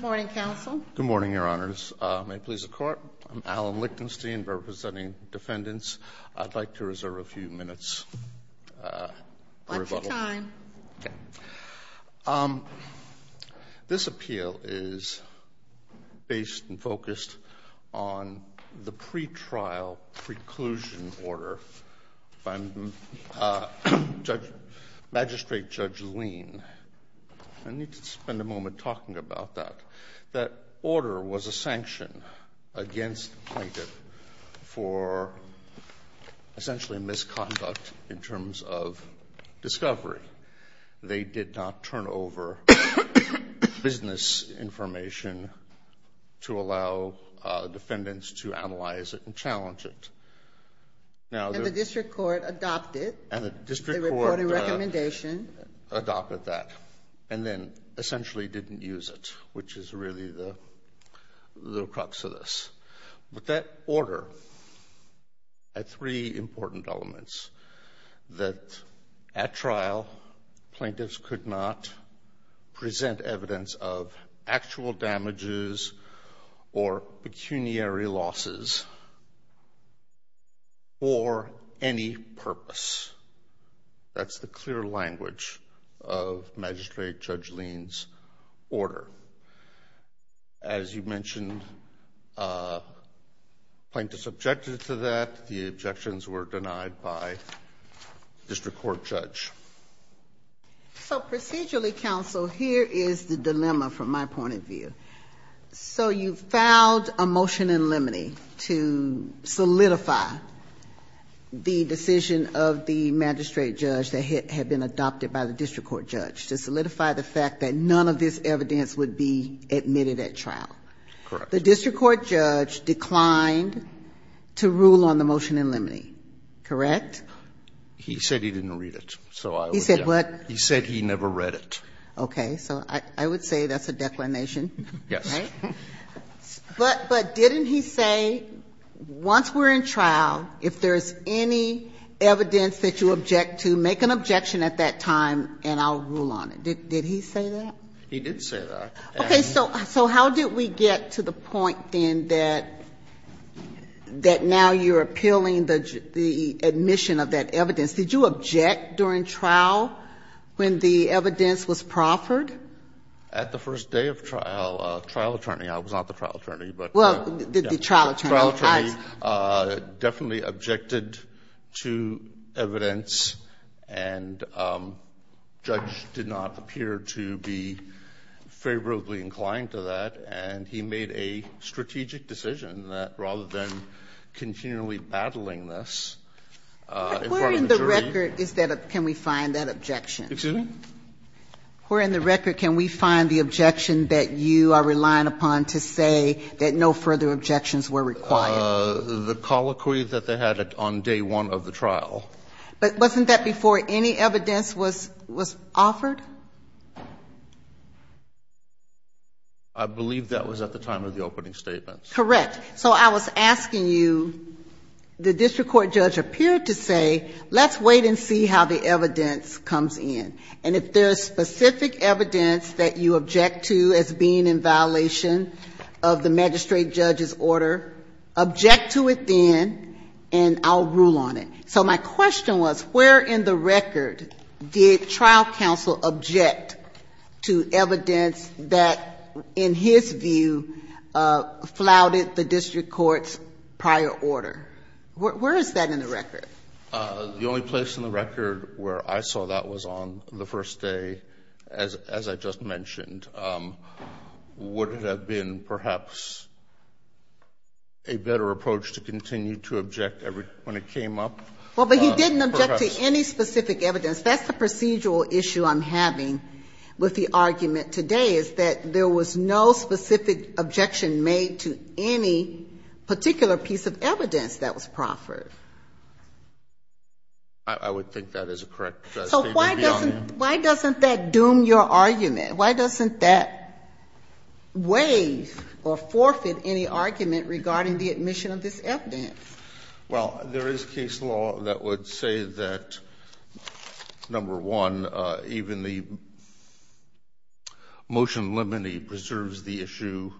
Good morning, Your Honors. May it please the Court, I'm Alan Lichtenstein representing Defendants. I'd like to reserve a few minutes for rebuttal. This appeal is based and focused on the pre-trial preclusion order by Magistrate Judge Lean. I need to spend a moment talking about that. That order was a sanction against plaintiff for essentially misconduct in terms of discovery. They did not turn over business information to allow defendants to analyze it and challenge it. And the district court adopted. And the district court adopted that and then essentially didn't use it, which is really the crux of this. But that order had three important elements. That at trial, plaintiffs could not present evidence of actual damages or pecuniary losses. Or any purpose. That's the clear language of Magistrate Judge Lean's order. As you mentioned, plaintiffs objected to that. The objections were denied by district court judge. So procedurally, counsel, here is the dilemma from my point of view. So you filed a motion in limine to solidify the decision of the magistrate judge that had been adopted by the district court judge to solidify the fact that none of this evidence would be admitted at trial. The district court judge declined to rule on the motion in limine. Correct? He said he didn't read it. He said what? He said he never read it. Okay. So I would say that's a declination. Yes. But didn't he say once we're in trial, if there's any evidence that you object to, make an objection at that time and I'll rule on it. Did he say that? He did say that. Okay. So how did we get to the point then that now you're appealing the admission of that evidence? Did you object during trial when the evidence was proffered? At the first day of trial, trial attorney, I was not the trial attorney, but... Well, the trial attorney. Trial attorney definitely objected to evidence and judge did not appear to be favorably inclined to that. And he made a strategic decision that rather than continually battling this in front of the jury... Where in the record can we find that objection? Excuse me? Where in the record can we find the objection that you are relying upon to say that no further objections were required? The colloquy that they had on day one of the trial. But wasn't that before any evidence was offered? I believe that was at the time of the opening statement. Correct. So I was asking you, the district court judge appeared to say, let's wait and see how the evidence comes in. And if there's specific evidence that you object to as being in violation of the magistrate judge's order, object to it then and I'll rule on it. So my question was, where in the record did trial counsel object to evidence that in his view flouted the district court's prior order? Where is that in the record? The only place in the record where I saw that was on the first day, as I just mentioned, would it have been perhaps a better approach to continue to object when it came up? Well, but he didn't object to any specific evidence. That's the procedural issue I'm having with the argument today is that there was no specific objection made to any particular piece of evidence that was proffered. I would think that is a correct statement. So why doesn't that doom your argument? Why doesn't that waive or forfeit any argument regarding the admission of this evidence? Well, there is case law that would say that, number one, even the motion limiting preserves the issue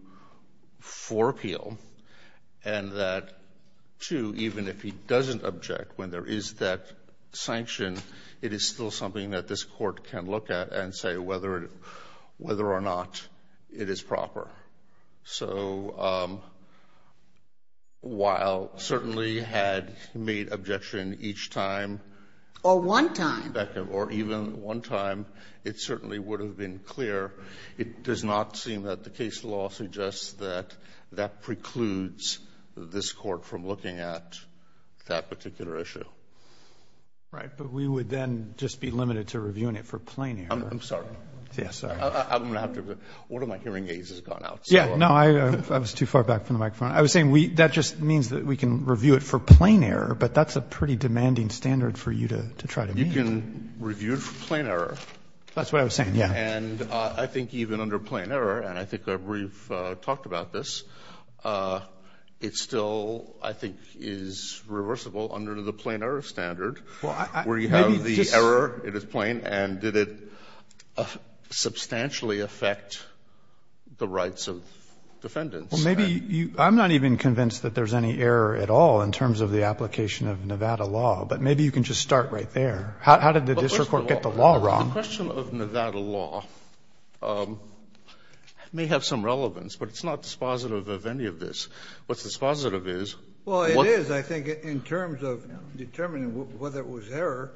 for appeal and that, two, even if he doesn't object when there is that sanction, it is still something that this court can look at and say whether or not it is proper. So while certainly he had made objection each time. Or one time. Or even one time, it certainly would have been clear. It does not seem that the case law suggests that that precludes this court from looking at that particular issue. Right. But we would then just be limited to reviewing it for plain air. I'm sorry. One of my hearing aids has gone out. Yeah. No, I was too far back from the microphone. I was saying that just means that we can review it for plain air, but that's a pretty demanding standard for you to try to meet. You can review it for plain air. That's what I was saying, yeah. And I think even under plain air, and I think we've talked about this, it still, I think, is reversible under the plain air standard where you have the error, it is plain, and did it substantially affect the rights of defendants? Well, maybe you, I'm not even convinced that there's any error at all in terms of the application of Nevada law, but maybe you can just start right there. How did the district court get the law wrong? The question of Nevada law may have some relevance, but it's not dispositive of any of this. What's dispositive is, what is, I think, in terms of determining whether it was error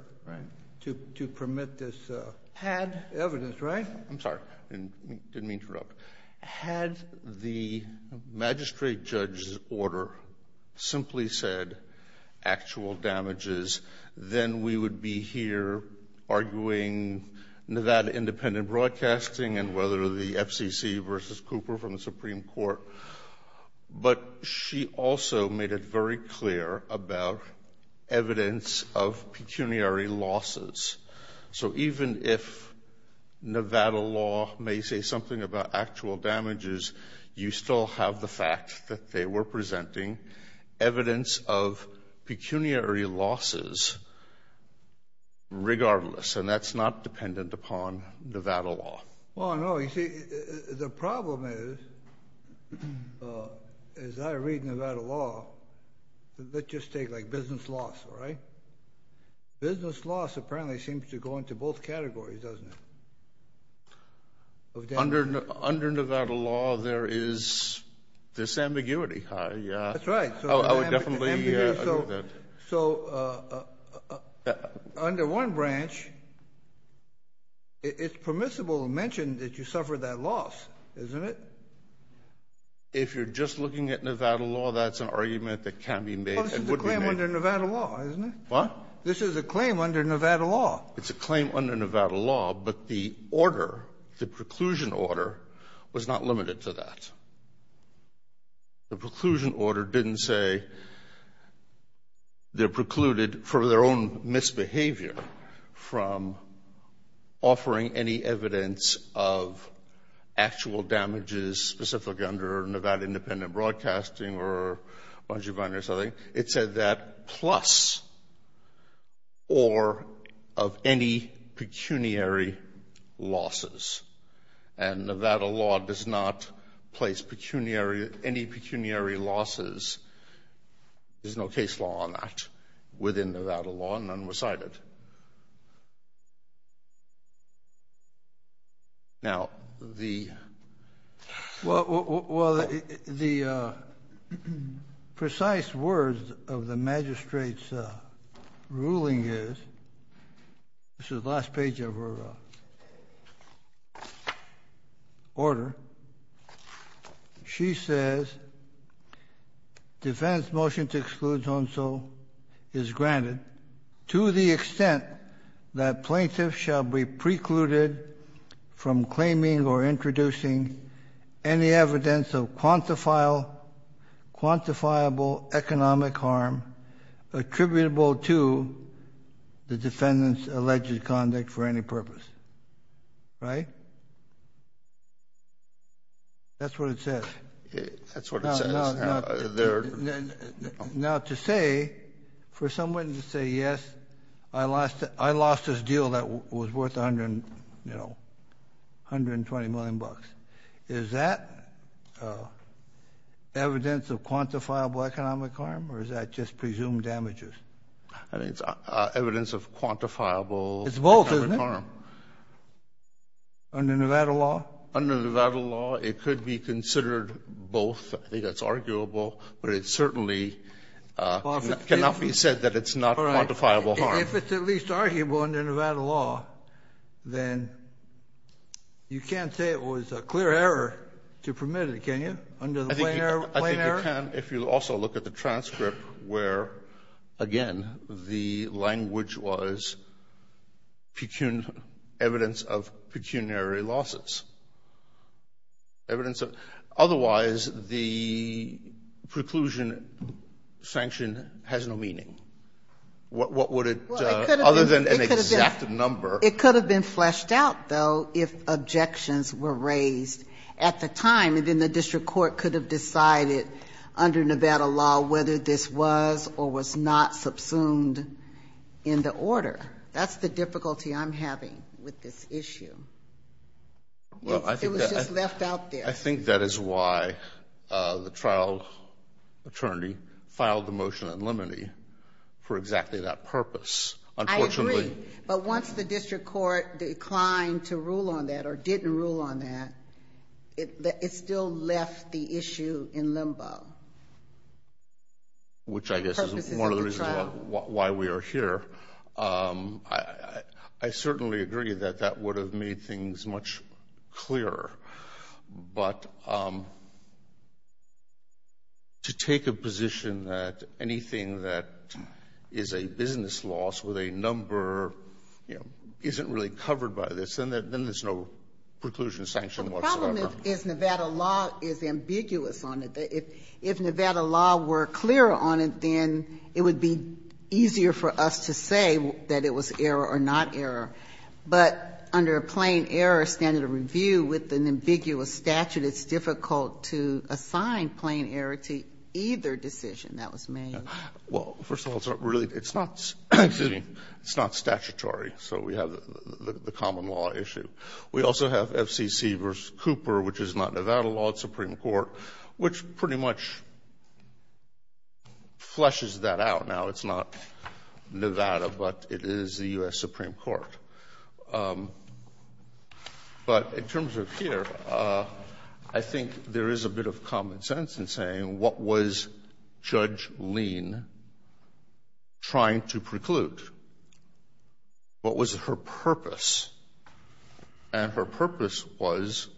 to permit this. Had evidence, right? I'm sorry. Didn't mean to interrupt. Had the magistrate judge's order simply said actual damages, then we would be here arguing Nevada independent broadcasting and whether the FCC versus Cooper from the Supreme Court, but she also made it very clear about evidence of pecuniary losses. So even if Nevada law may say something about actual damages, you still have the fact that they were presenting evidence of pecuniary losses regardless, and that's not dependent upon Nevada law. Well, no. You see, the problem is, as I read Nevada law, let's just take, like, business loss, all right? Business loss apparently seems to go into both categories, doesn't it? Under Nevada law, there is this ambiguity. That's right. I would definitely agree with that. So under one branch, it's permissible to mention that you suffered that loss, isn't it? If you're just looking at Nevada law, that's an argument that can be made and would be made. Well, this is a claim under Nevada law, isn't it? What? This is a claim under Nevada law. It's a claim under Nevada law, but the order, the preclusion order, was not limited to that. The preclusion order didn't say they're precluded for their own misbehavior from offering any evidence of actual damages specifically under Nevada independent broadcasting or bungee binding or something. It said that plus or of any pecuniary losses. And Nevada law does not place any pecuniary losses. There's no case law on that within Nevada law. None were cited. Now, the... Well, the precise words of the magistrate's ruling is... This is the last page of her order. She says, defendant's motion to exclude so-and-so is granted to the extent that plaintiff shall be precluded from claiming or introducing any evidence of quantifiable economic harm attributable to the defendant's alleged conduct for any purpose. Right? That's what it says. That's what it says. Now, to say, for someone to say, yes, I lost this deal that was worth 120 million bucks, is that evidence of quantifiable economic harm? Or is that just presumed damages? I think it's evidence of quantifiable... It's both, isn't it? Under Nevada law? Under Nevada law, it could be considered both. I think that's arguable. But it certainly cannot be said that it's not quantifiable harm. If it's at least arguable under Nevada law, then you can't say it was a clear error to permit it, can you, under the plain error? I think you can if you also look at the transcript where, again, the language was evidence of pecuniary losses. Otherwise, the preclusion sanction has no meaning. What would it, other than an exact number? It could have been fleshed out, though, if objections were raised at the time, and then the district court could have decided under Nevada law whether this was or was not subsumed in the order. That's the difficulty I'm having with this issue. It was just left out there. I think that is why the trial attorney filed the motion in limine for exactly that purpose. I agree. But once the district court declined to rule on that or didn't rule on that, it still left the issue in limbo. Which I guess is one of the reasons why we are here. I certainly agree that that would have made things much clearer. But to take a position that anything that is a business loss with a number, you know, isn't really covered by this, then there's no preclusion sanction whatsoever. Well, the problem is Nevada law is ambiguous on it. If Nevada law were clearer on it, then it would be easier for us to say that it was error or not error. But under a plain error standard of review with an ambiguous statute, it's difficult to assign plain error to either decision that was made. Well, first of all, it's not really — it's not — excuse me — it's not statutory. So we have the common law issue. We also have FCC v. Cooper, which is not Nevada law. It's Supreme Court, which pretty much flushes that out now. It's not Nevada, but it is the U.S. Supreme Court. But in terms of here, I think there is a bit of common sense in saying, what was Judge Lean trying to preclude? What was her purpose? And her purpose was,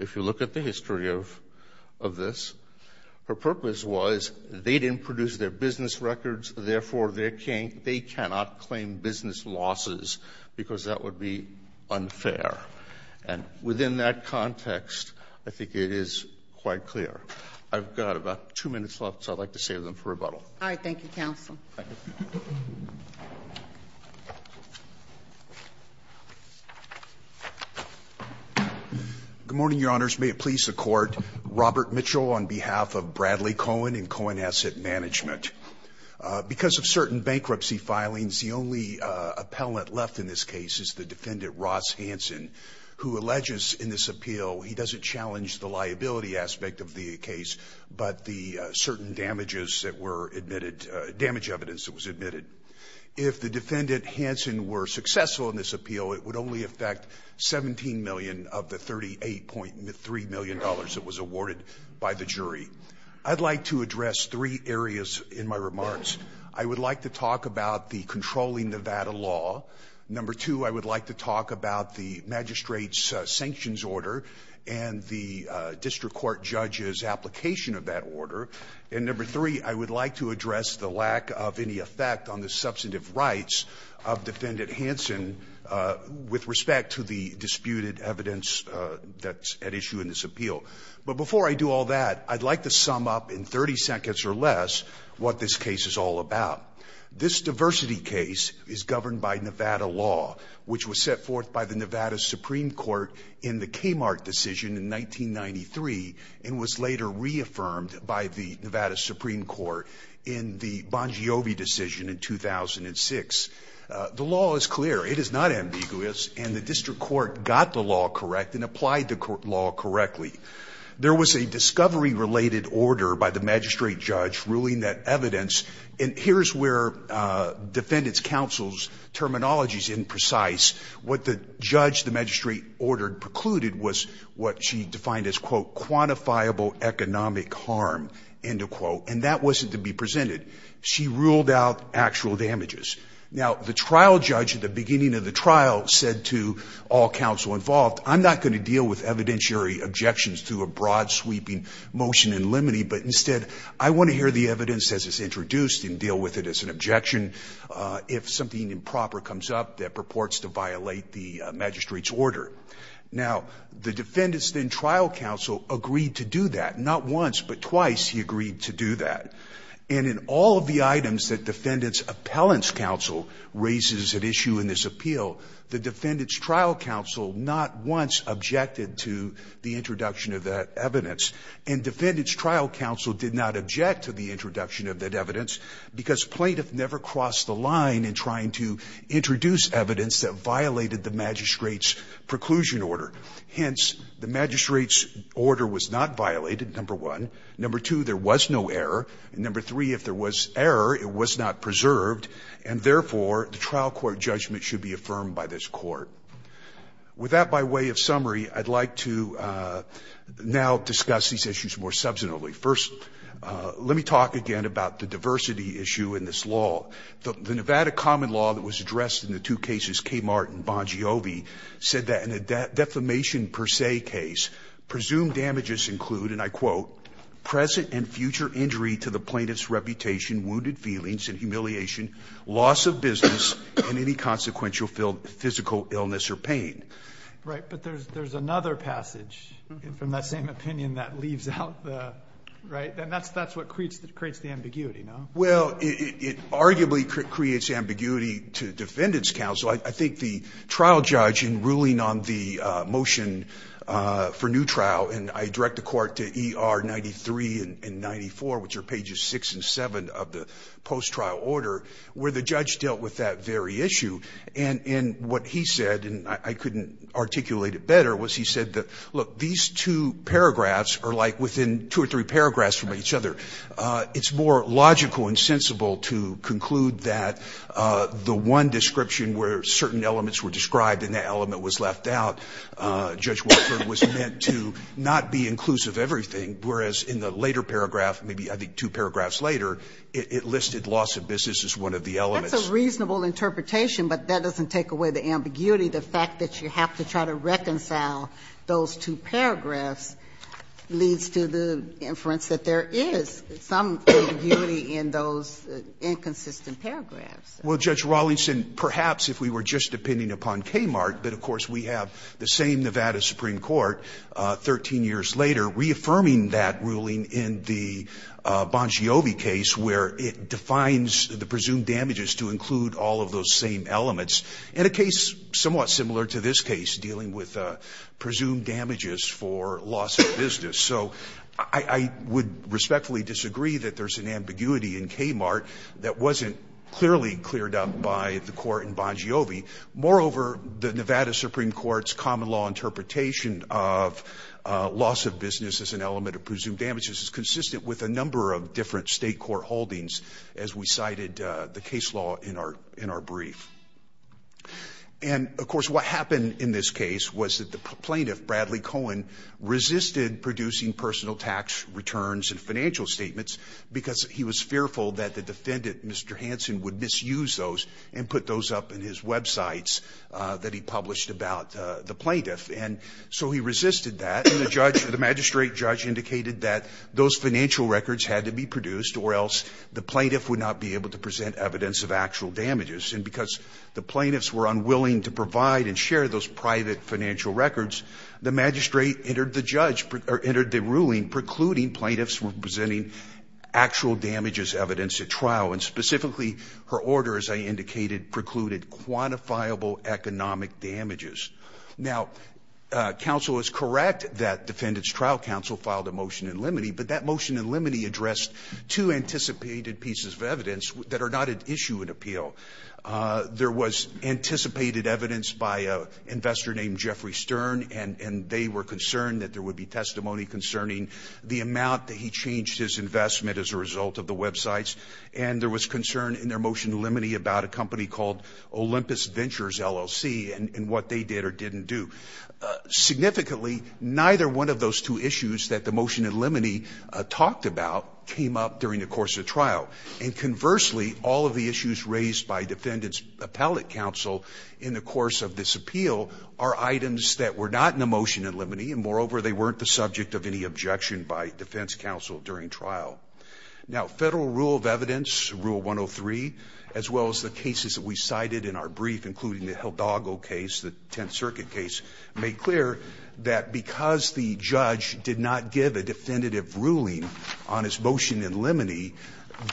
if you look at the history of this, her purpose was they didn't produce their business records. Therefore, they cannot claim business losses because that would be unfair. And within that context, I think it is quite clear. I've got about two minutes left, so I'd like to save them for rebuttal. All right. Thank you, counsel. Good morning, Your Honors. May it please the Court. Robert Mitchell on behalf of Bradley Cohen and Cohen Asset Management. Because of certain bankruptcy filings, the only appellant left in this case is the defendant Ross Hansen, who alleges in this appeal he doesn't challenge the liability aspect of the case, but the certain damages that were admitted, damage evidence that was admitted. If the defendant Hansen were successful in this appeal, it would only affect $17 million of the $38.3 million that was awarded by the jury. I'd like to address three areas in my remarks. I would like to talk about the controlling Nevada law. Number two, I would like to talk about the magistrate's sanctions order and the district court judge's application of that order. And number three, I would like to address the lack of any effect on the substantive rights of defendant Hansen with respect to the disputed evidence that's at issue in this appeal. But before I do all that, I'd like to sum up in 30 seconds or less what this case is all about. This diversity case is governed by Nevada law, which was set forth by the Nevada Supreme Court in the Kmart decision in 1993 and was later reaffirmed by the Nevada Supreme Court in the Bongiovi decision in 2006. The law is clear. It is not ambiguous. And the district court got the law correct and applied the law correctly. There was a discovery-related order by the magistrate judge ruling that evidence, and here's where defendant's counsel's terminology is imprecise. What the judge, the magistrate ordered, precluded was what she defined as, quote, quantifiable economic harm, end of quote. And that wasn't to be presented. She ruled out actual damages. Now, the trial judge at the beginning of the trial said to all counsel involved, I'm not going to deal with evidentiary objections to a broad-sweeping motion in limine, but instead, I want to hear the evidence as it's introduced and deal with it as an objection if something improper comes up that purports to violate the magistrate's order. Now, the defendant's then trial counsel agreed to do that. Not once, but twice he agreed to do that. And in all of the items that defendant's appellant's counsel raises at issue in this appeal, the defendant's trial counsel not once objected to the introduction of that evidence. And defendant's trial counsel did not object to the introduction of that evidence because plaintiff never crossed the line in trying to introduce evidence that violated the magistrate's preclusion order. Hence, the magistrate's order was not violated, number one. Number two, there was no error. Number three, if there was error, it was not preserved. And therefore, the trial court judgment should be affirmed by this court. With that by way of summary, I'd like to now discuss these issues more substantively. First, let me talk again about the diversity issue in this law. The Nevada common law that was addressed in the two cases, Kmart and Bongiovi, said that in a defamation per se case, presumed damages include, and I quote, present and future injury to the plaintiff's reputation, wounded feelings and humiliation, loss of business, and any consequential physical illness or pain. Right. But there's another passage from that same opinion that leaves out the, right? And that's what creates the ambiguity, no? Well, it arguably creates ambiguity to defendant's counsel. I think the trial judge in ruling on the motion for new trial, and I direct the 1993 and 94, which are pages six and seven of the post-trial order, where the judge dealt with that very issue. And what he said, and I couldn't articulate it better, was he said that, look, these two paragraphs are like within two or three paragraphs from each other. It's more logical and sensible to conclude that the one description where certain elements were described and the element was left out, Judge Wofford was meant to not be inclusive of everything, whereas in the later paragraph, maybe I think two paragraphs later, it listed loss of business as one of the elements. That's a reasonable interpretation, but that doesn't take away the ambiguity. The fact that you have to try to reconcile those two paragraphs leads to the inference that there is some ambiguity in those inconsistent paragraphs. Well, Judge Rawlingson, perhaps if we were just depending upon Kmart, but of course we have the same Nevada Supreme Court 13 years later reaffirming that ruling in the Bongiovi case where it defines the presumed damages to include all of those same elements, in a case somewhat similar to this case dealing with presumed damages for loss of business. So I would respectfully disagree that there's an ambiguity in Kmart that wasn't clearly cleared up by the court in Bongiovi. Moreover, the Nevada Supreme Court's common law interpretation of loss of business as an element of presumed damages is consistent with a number of different state court holdings as we cited the case law in our brief. And of course, what happened in this case was that the plaintiff, Bradley Cohen, resisted producing personal tax returns and financial statements because he was fearful that the defendant, Mr. Hansen, would misuse those and put those up in his websites that he published about the plaintiff. And so he resisted that, and the magistrate judge indicated that those financial records had to be produced or else the plaintiff would not be able to present evidence of actual damages. And because the plaintiffs were unwilling to provide and share those private financial records, the magistrate entered the ruling precluding plaintiffs from presenting actual damages evidence at trial. And specifically, her order, as I indicated, precluded quantifiable economic damages. Now, counsel is correct that defendant's trial counsel filed a motion in limine, but that motion in limine addressed two anticipated pieces of evidence that are not at issue in appeal. There was anticipated evidence by an investor named Jeffrey Stern, and they were concerned that there would be testimony concerning the amount that he changed his investment as a result of the websites. And there was concern in their motion in limine about a company called Olympus Ventures LLC and what they did or didn't do. Significantly, neither one of those two issues that the motion in limine talked about came up during the course of the trial. And conversely, all of the issues raised by defendant's appellate counsel in the course of this appeal are items that were not in the motion in limine, and moreover, they weren't the subject of any objection by defense counsel during trial. Now, federal rule of evidence, rule 103, as well as the cases that we cited in our brief, including the Hildago case, the Tenth Circuit case, made clear that because the judge did not give a definitive ruling on his motion in limine,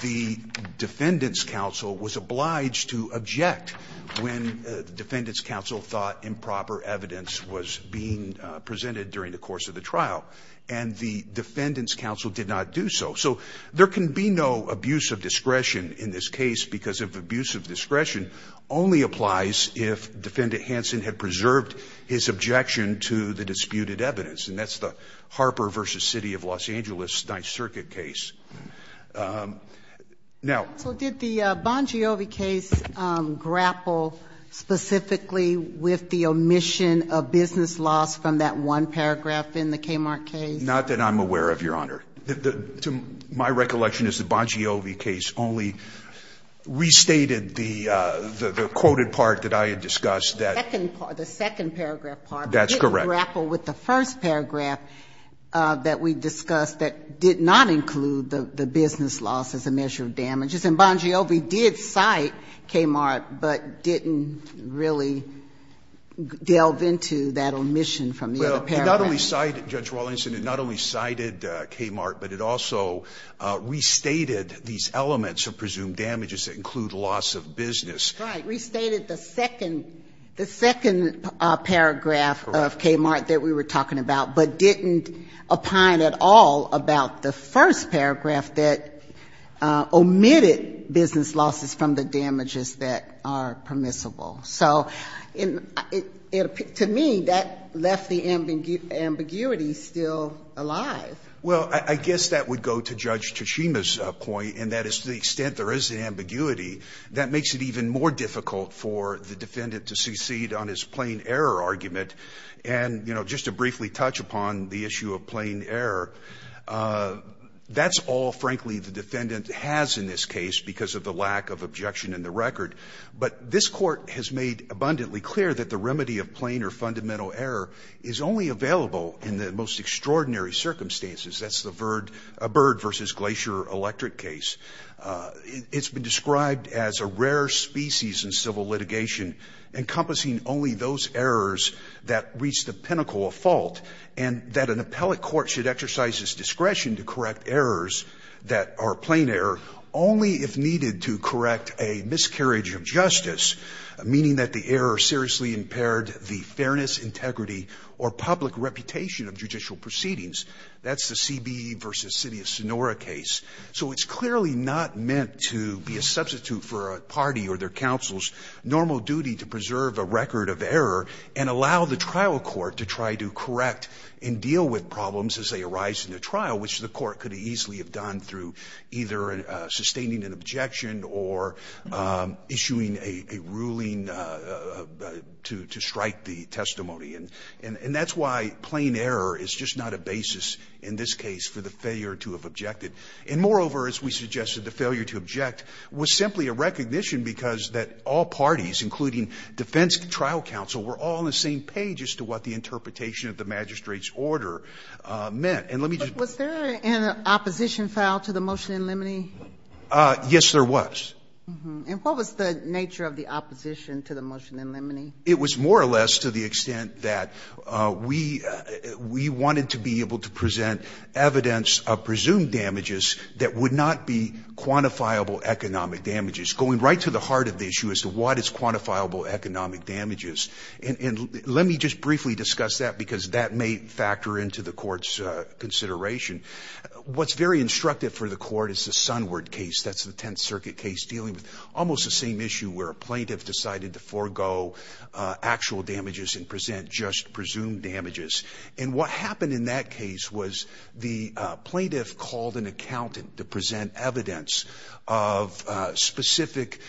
the defendant's counsel was obliged to object when the defendant's counsel thought improper evidence was being presented during the course of the trial. And the defendant's counsel did not do so. So there can be no abuse of discretion in this case because if abuse of discretion only applies if Defendant Hanson had preserved his objection to the disputed evidence. And that's the Harper v. City of Los Angeles Ninth Circuit case. Now. Sotomayor, so did the Bongiovi case grapple specifically with the omission of business loss from that one paragraph in the Kmart case? Not that I'm aware of, Your Honor. My recollection is the Bongiovi case only restated the quoted part that I had discussed. The second part, the second paragraph part. That's correct. With the first paragraph that we discussed that did not include the business loss as a measure of damages. And Bongiovi did cite Kmart, but didn't really delve into that omission from the other paragraph. Well, it not only cited, Judge Wallingston, it not only cited Kmart, but it also restated these elements of presumed damages that include loss of business. Right. Restated the second paragraph of Kmart that we were talking about, but didn't opine at all about the first paragraph that omitted business losses from the damages that are permissible. So to me, that left the ambiguity still alive. Well, I guess that would go to Judge Tachima's point, and that is to the extent that there is the ambiguity, that makes it even more difficult for the defendant to secede on his plain error argument. And, you know, just to briefly touch upon the issue of plain error, that's all, frankly, the defendant has in this case because of the lack of objection in the record. But this Court has made abundantly clear that the remedy of plain or fundamental error is only available in the most extraordinary circumstances. That's the Bird v. Glacier Electric case. It's been described as a rare species in civil litigation, encompassing only those errors that reach the pinnacle of fault, and that an appellate court should exercise its discretion to correct errors that are plain error only if needed to correct a miscarriage of justice, meaning that the error seriously impaired the fairness, integrity, or public reputation of judicial proceedings. That's the CBE v. City of Sonora case. So it's clearly not meant to be a substitute for a party or their counsel's normal duty to preserve a record of error and allow the trial court to try to correct and deal with problems as they arise in the trial, which the court could have easily have done through either sustaining an objection or issuing a ruling to strike the testimony. And that's why plain error is just not a basis in this case for the failure to have an objection, and moreover, as we suggested, the failure to object was simply a recognition because that all parties, including defense trial counsel, were all on the same page as to what the interpretation of the magistrate's order meant. And let me just be clear. Ginsburg. Was there an opposition file to the motion in limine? Verrilli,, Yes, there was. Ginsburg. And what was the nature of the opposition to the motion in limine? Verrilli,, It was more or less to the extent that we wanted to be able to present evidence of presumed damages that would not be quantifiable economic damages, going right to the heart of the issue as to what is quantifiable economic damages. And let me just briefly discuss that because that may factor into the court's consideration. What's very instructive for the court is the Sunward case. That's the Tenth Circuit case dealing with almost the same issue where a plaintiff decided to forego actual damages and present just presumed damages. And what happened in that case was the plaintiff called an accountant to present evidence of specific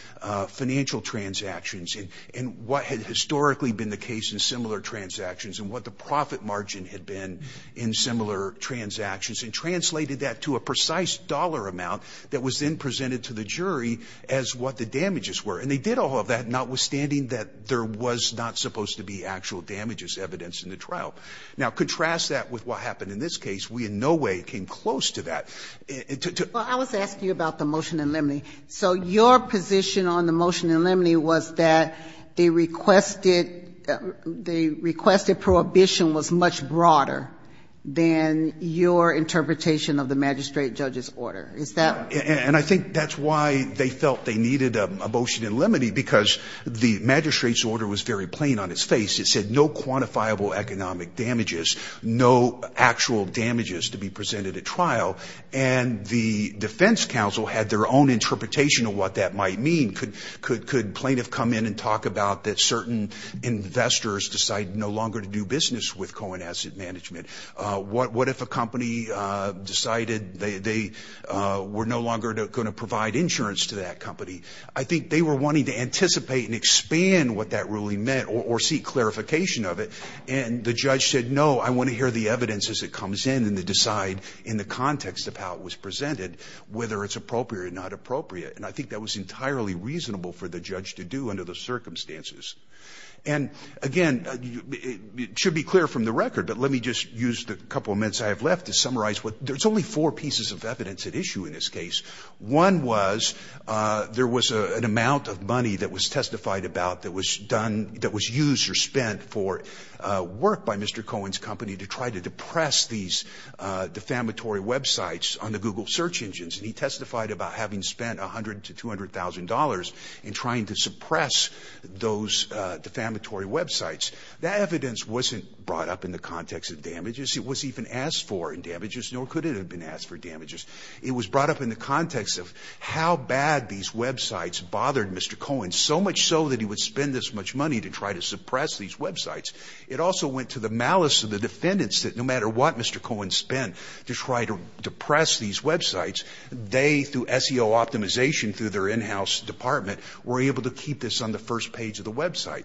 financial transactions and what had historically been the case in similar transactions and what the profit margin had been in similar transactions and translated that to a precise dollar amount that was then presented to the jury as what the damages were. And they did all of that, notwithstanding that there was not supposed to be actual damages evidenced in the trial. Now, contrast that with what happened in this case. We in no way came close to that. Well, I was asking you about the motion in limine. So your position on the motion in limine was that the requested, the requested prohibition was much broader than your interpretation of the magistrate judge's order. Is that? And I think that's why they felt they needed a motion in limine because the magistrate's order was very plain on its face. It said no quantifiable economic damages, no actual damages to be presented at trial. And the defense counsel had their own interpretation of what that might mean. Could could could plaintiff come in and talk about that certain investors decide no longer to do business with Cohen Asset Management? What if a company decided they were no longer going to provide insurance to that company? I think they were wanting to anticipate and expand what that really meant or seek clarification of it. And the judge said, no, I want to hear the evidence as it comes in and to decide in the context of how it was presented, whether it's appropriate or not appropriate. And I think that was entirely reasonable for the judge to do under the circumstances. And again, it should be clear from the record, but let me just use the couple of minutes I have left to summarize what there's only four pieces of evidence at issue in this case. One was there was an amount of money that was testified about that was done that was used or spent for work by Mr. Cohen's company to try to depress these defamatory websites on the Google search engines. And he testified about having spent one hundred to two hundred thousand dollars in trying to suppress those defamatory websites. That evidence wasn't brought up in the context of damages. It was even asked for in damages, nor could it have been asked for damages. It was brought up in the context of how bad these websites bothered Mr. Cohen, so much so that he would spend this much money to try to suppress these websites. It also went to the malice of the defendants that no matter what Mr. Cohen spent to try to depress these websites, they, through SEO optimization through their in-house department, were able to keep this on the first page of the website.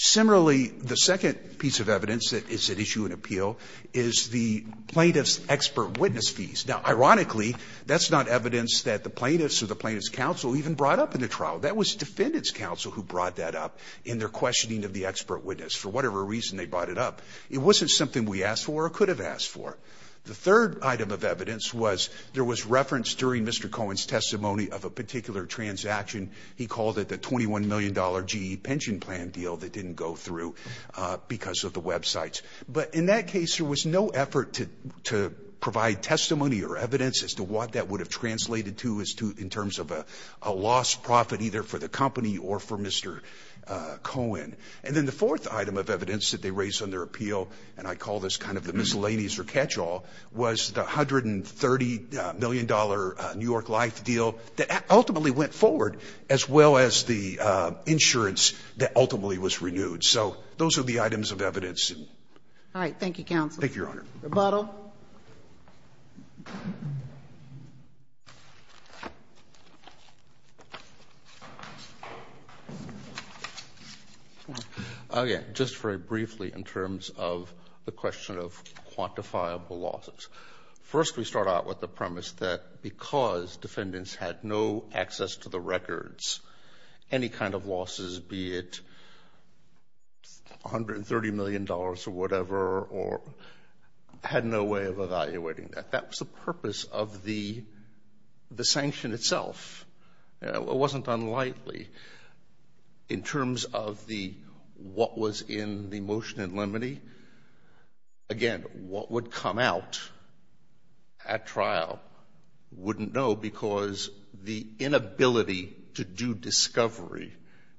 Similarly, the second piece of evidence that is at issue in appeal is the plaintiff's expert witness fees. Now, ironically, that's not evidence that the plaintiffs or the plaintiff's counsel even brought up in the trial. That was defendants counsel who brought that up in their questioning of the expert witness. For whatever reason, they brought it up. It wasn't something we asked for or could have asked for. The third item of evidence was there was reference during Mr. Cohen's testimony of a particular transaction. He called it the twenty one million dollar GE pension plan deal that didn't go through because of the websites. But in that case, there was no effort to to provide testimony or evidence as to what that would have translated to as to in terms of a lost profit either for the company or for Mr. Cohen. And then the fourth item of evidence that they raised on their appeal, and I call this kind of the miscellaneous or catch all, was the hundred and thirty million dollar New York Life deal that ultimately went forward, as well as the insurance that ultimately was renewed. So those are the items of evidence. Thank you, Your Honor. Rebuttal. Again, just very briefly in terms of the question of quantifiable losses. First, we start out with the premise that because defendants had no access to the records, any kind of losses, be it one hundred and thirty million dollars or whatever or had no way of evaluating that. That was the purpose of the the sanction itself. It wasn't unlikely in terms of the what was in the motion in limine. Again, what would come out at trial wouldn't know because the inability to do discovery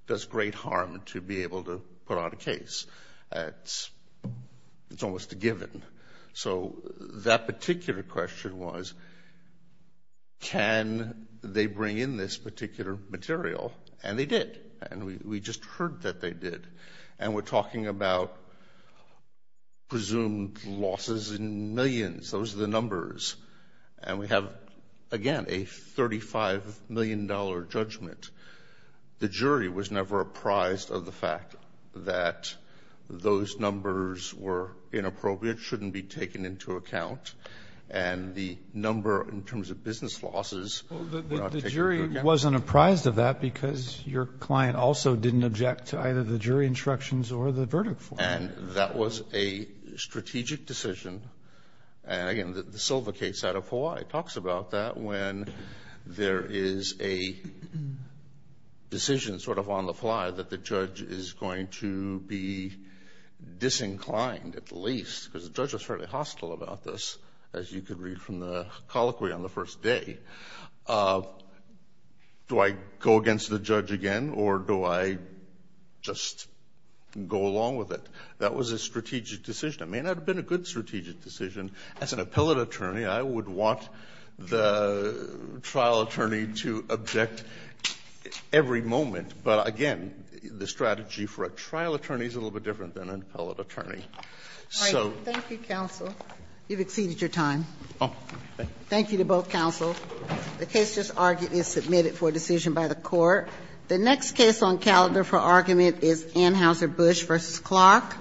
does great harm to be able to put out a case. It's almost a given. So that particular question was, can they bring in this particular material? And they did. And we just heard that they did. And we're talking about presumed losses in millions. Those are the numbers. And we have, again, a thirty five million dollar judgment. The jury was never apprised of the fact that those numbers were inappropriate, shouldn't be taken into account. And the number in terms of business losses, the jury wasn't apprised of that because your client also didn't object to either the jury instructions or the verdict. And that was a strategic decision. And again, the sylvicate side of Hawaii talks about that when there is a decision sort of on the fly that the judge is going to be disinclined, at least because the judge was fairly hostile about this, as you could read from the colloquy on the first day. Do I go against the judge again or do I just go along with it? That was a strategic decision. It may not have been a good strategic decision. As an appellate attorney, I would want the trial attorney to object every moment. But again, the strategy for a trial attorney is a little bit different than an appellate attorney. So thank you, counsel. You've exceeded your time. Oh, thank you to both counsel. The case just argued is submitted for decision by the court. The next case on calendar for argument is Anheuser-Busch versus Clark.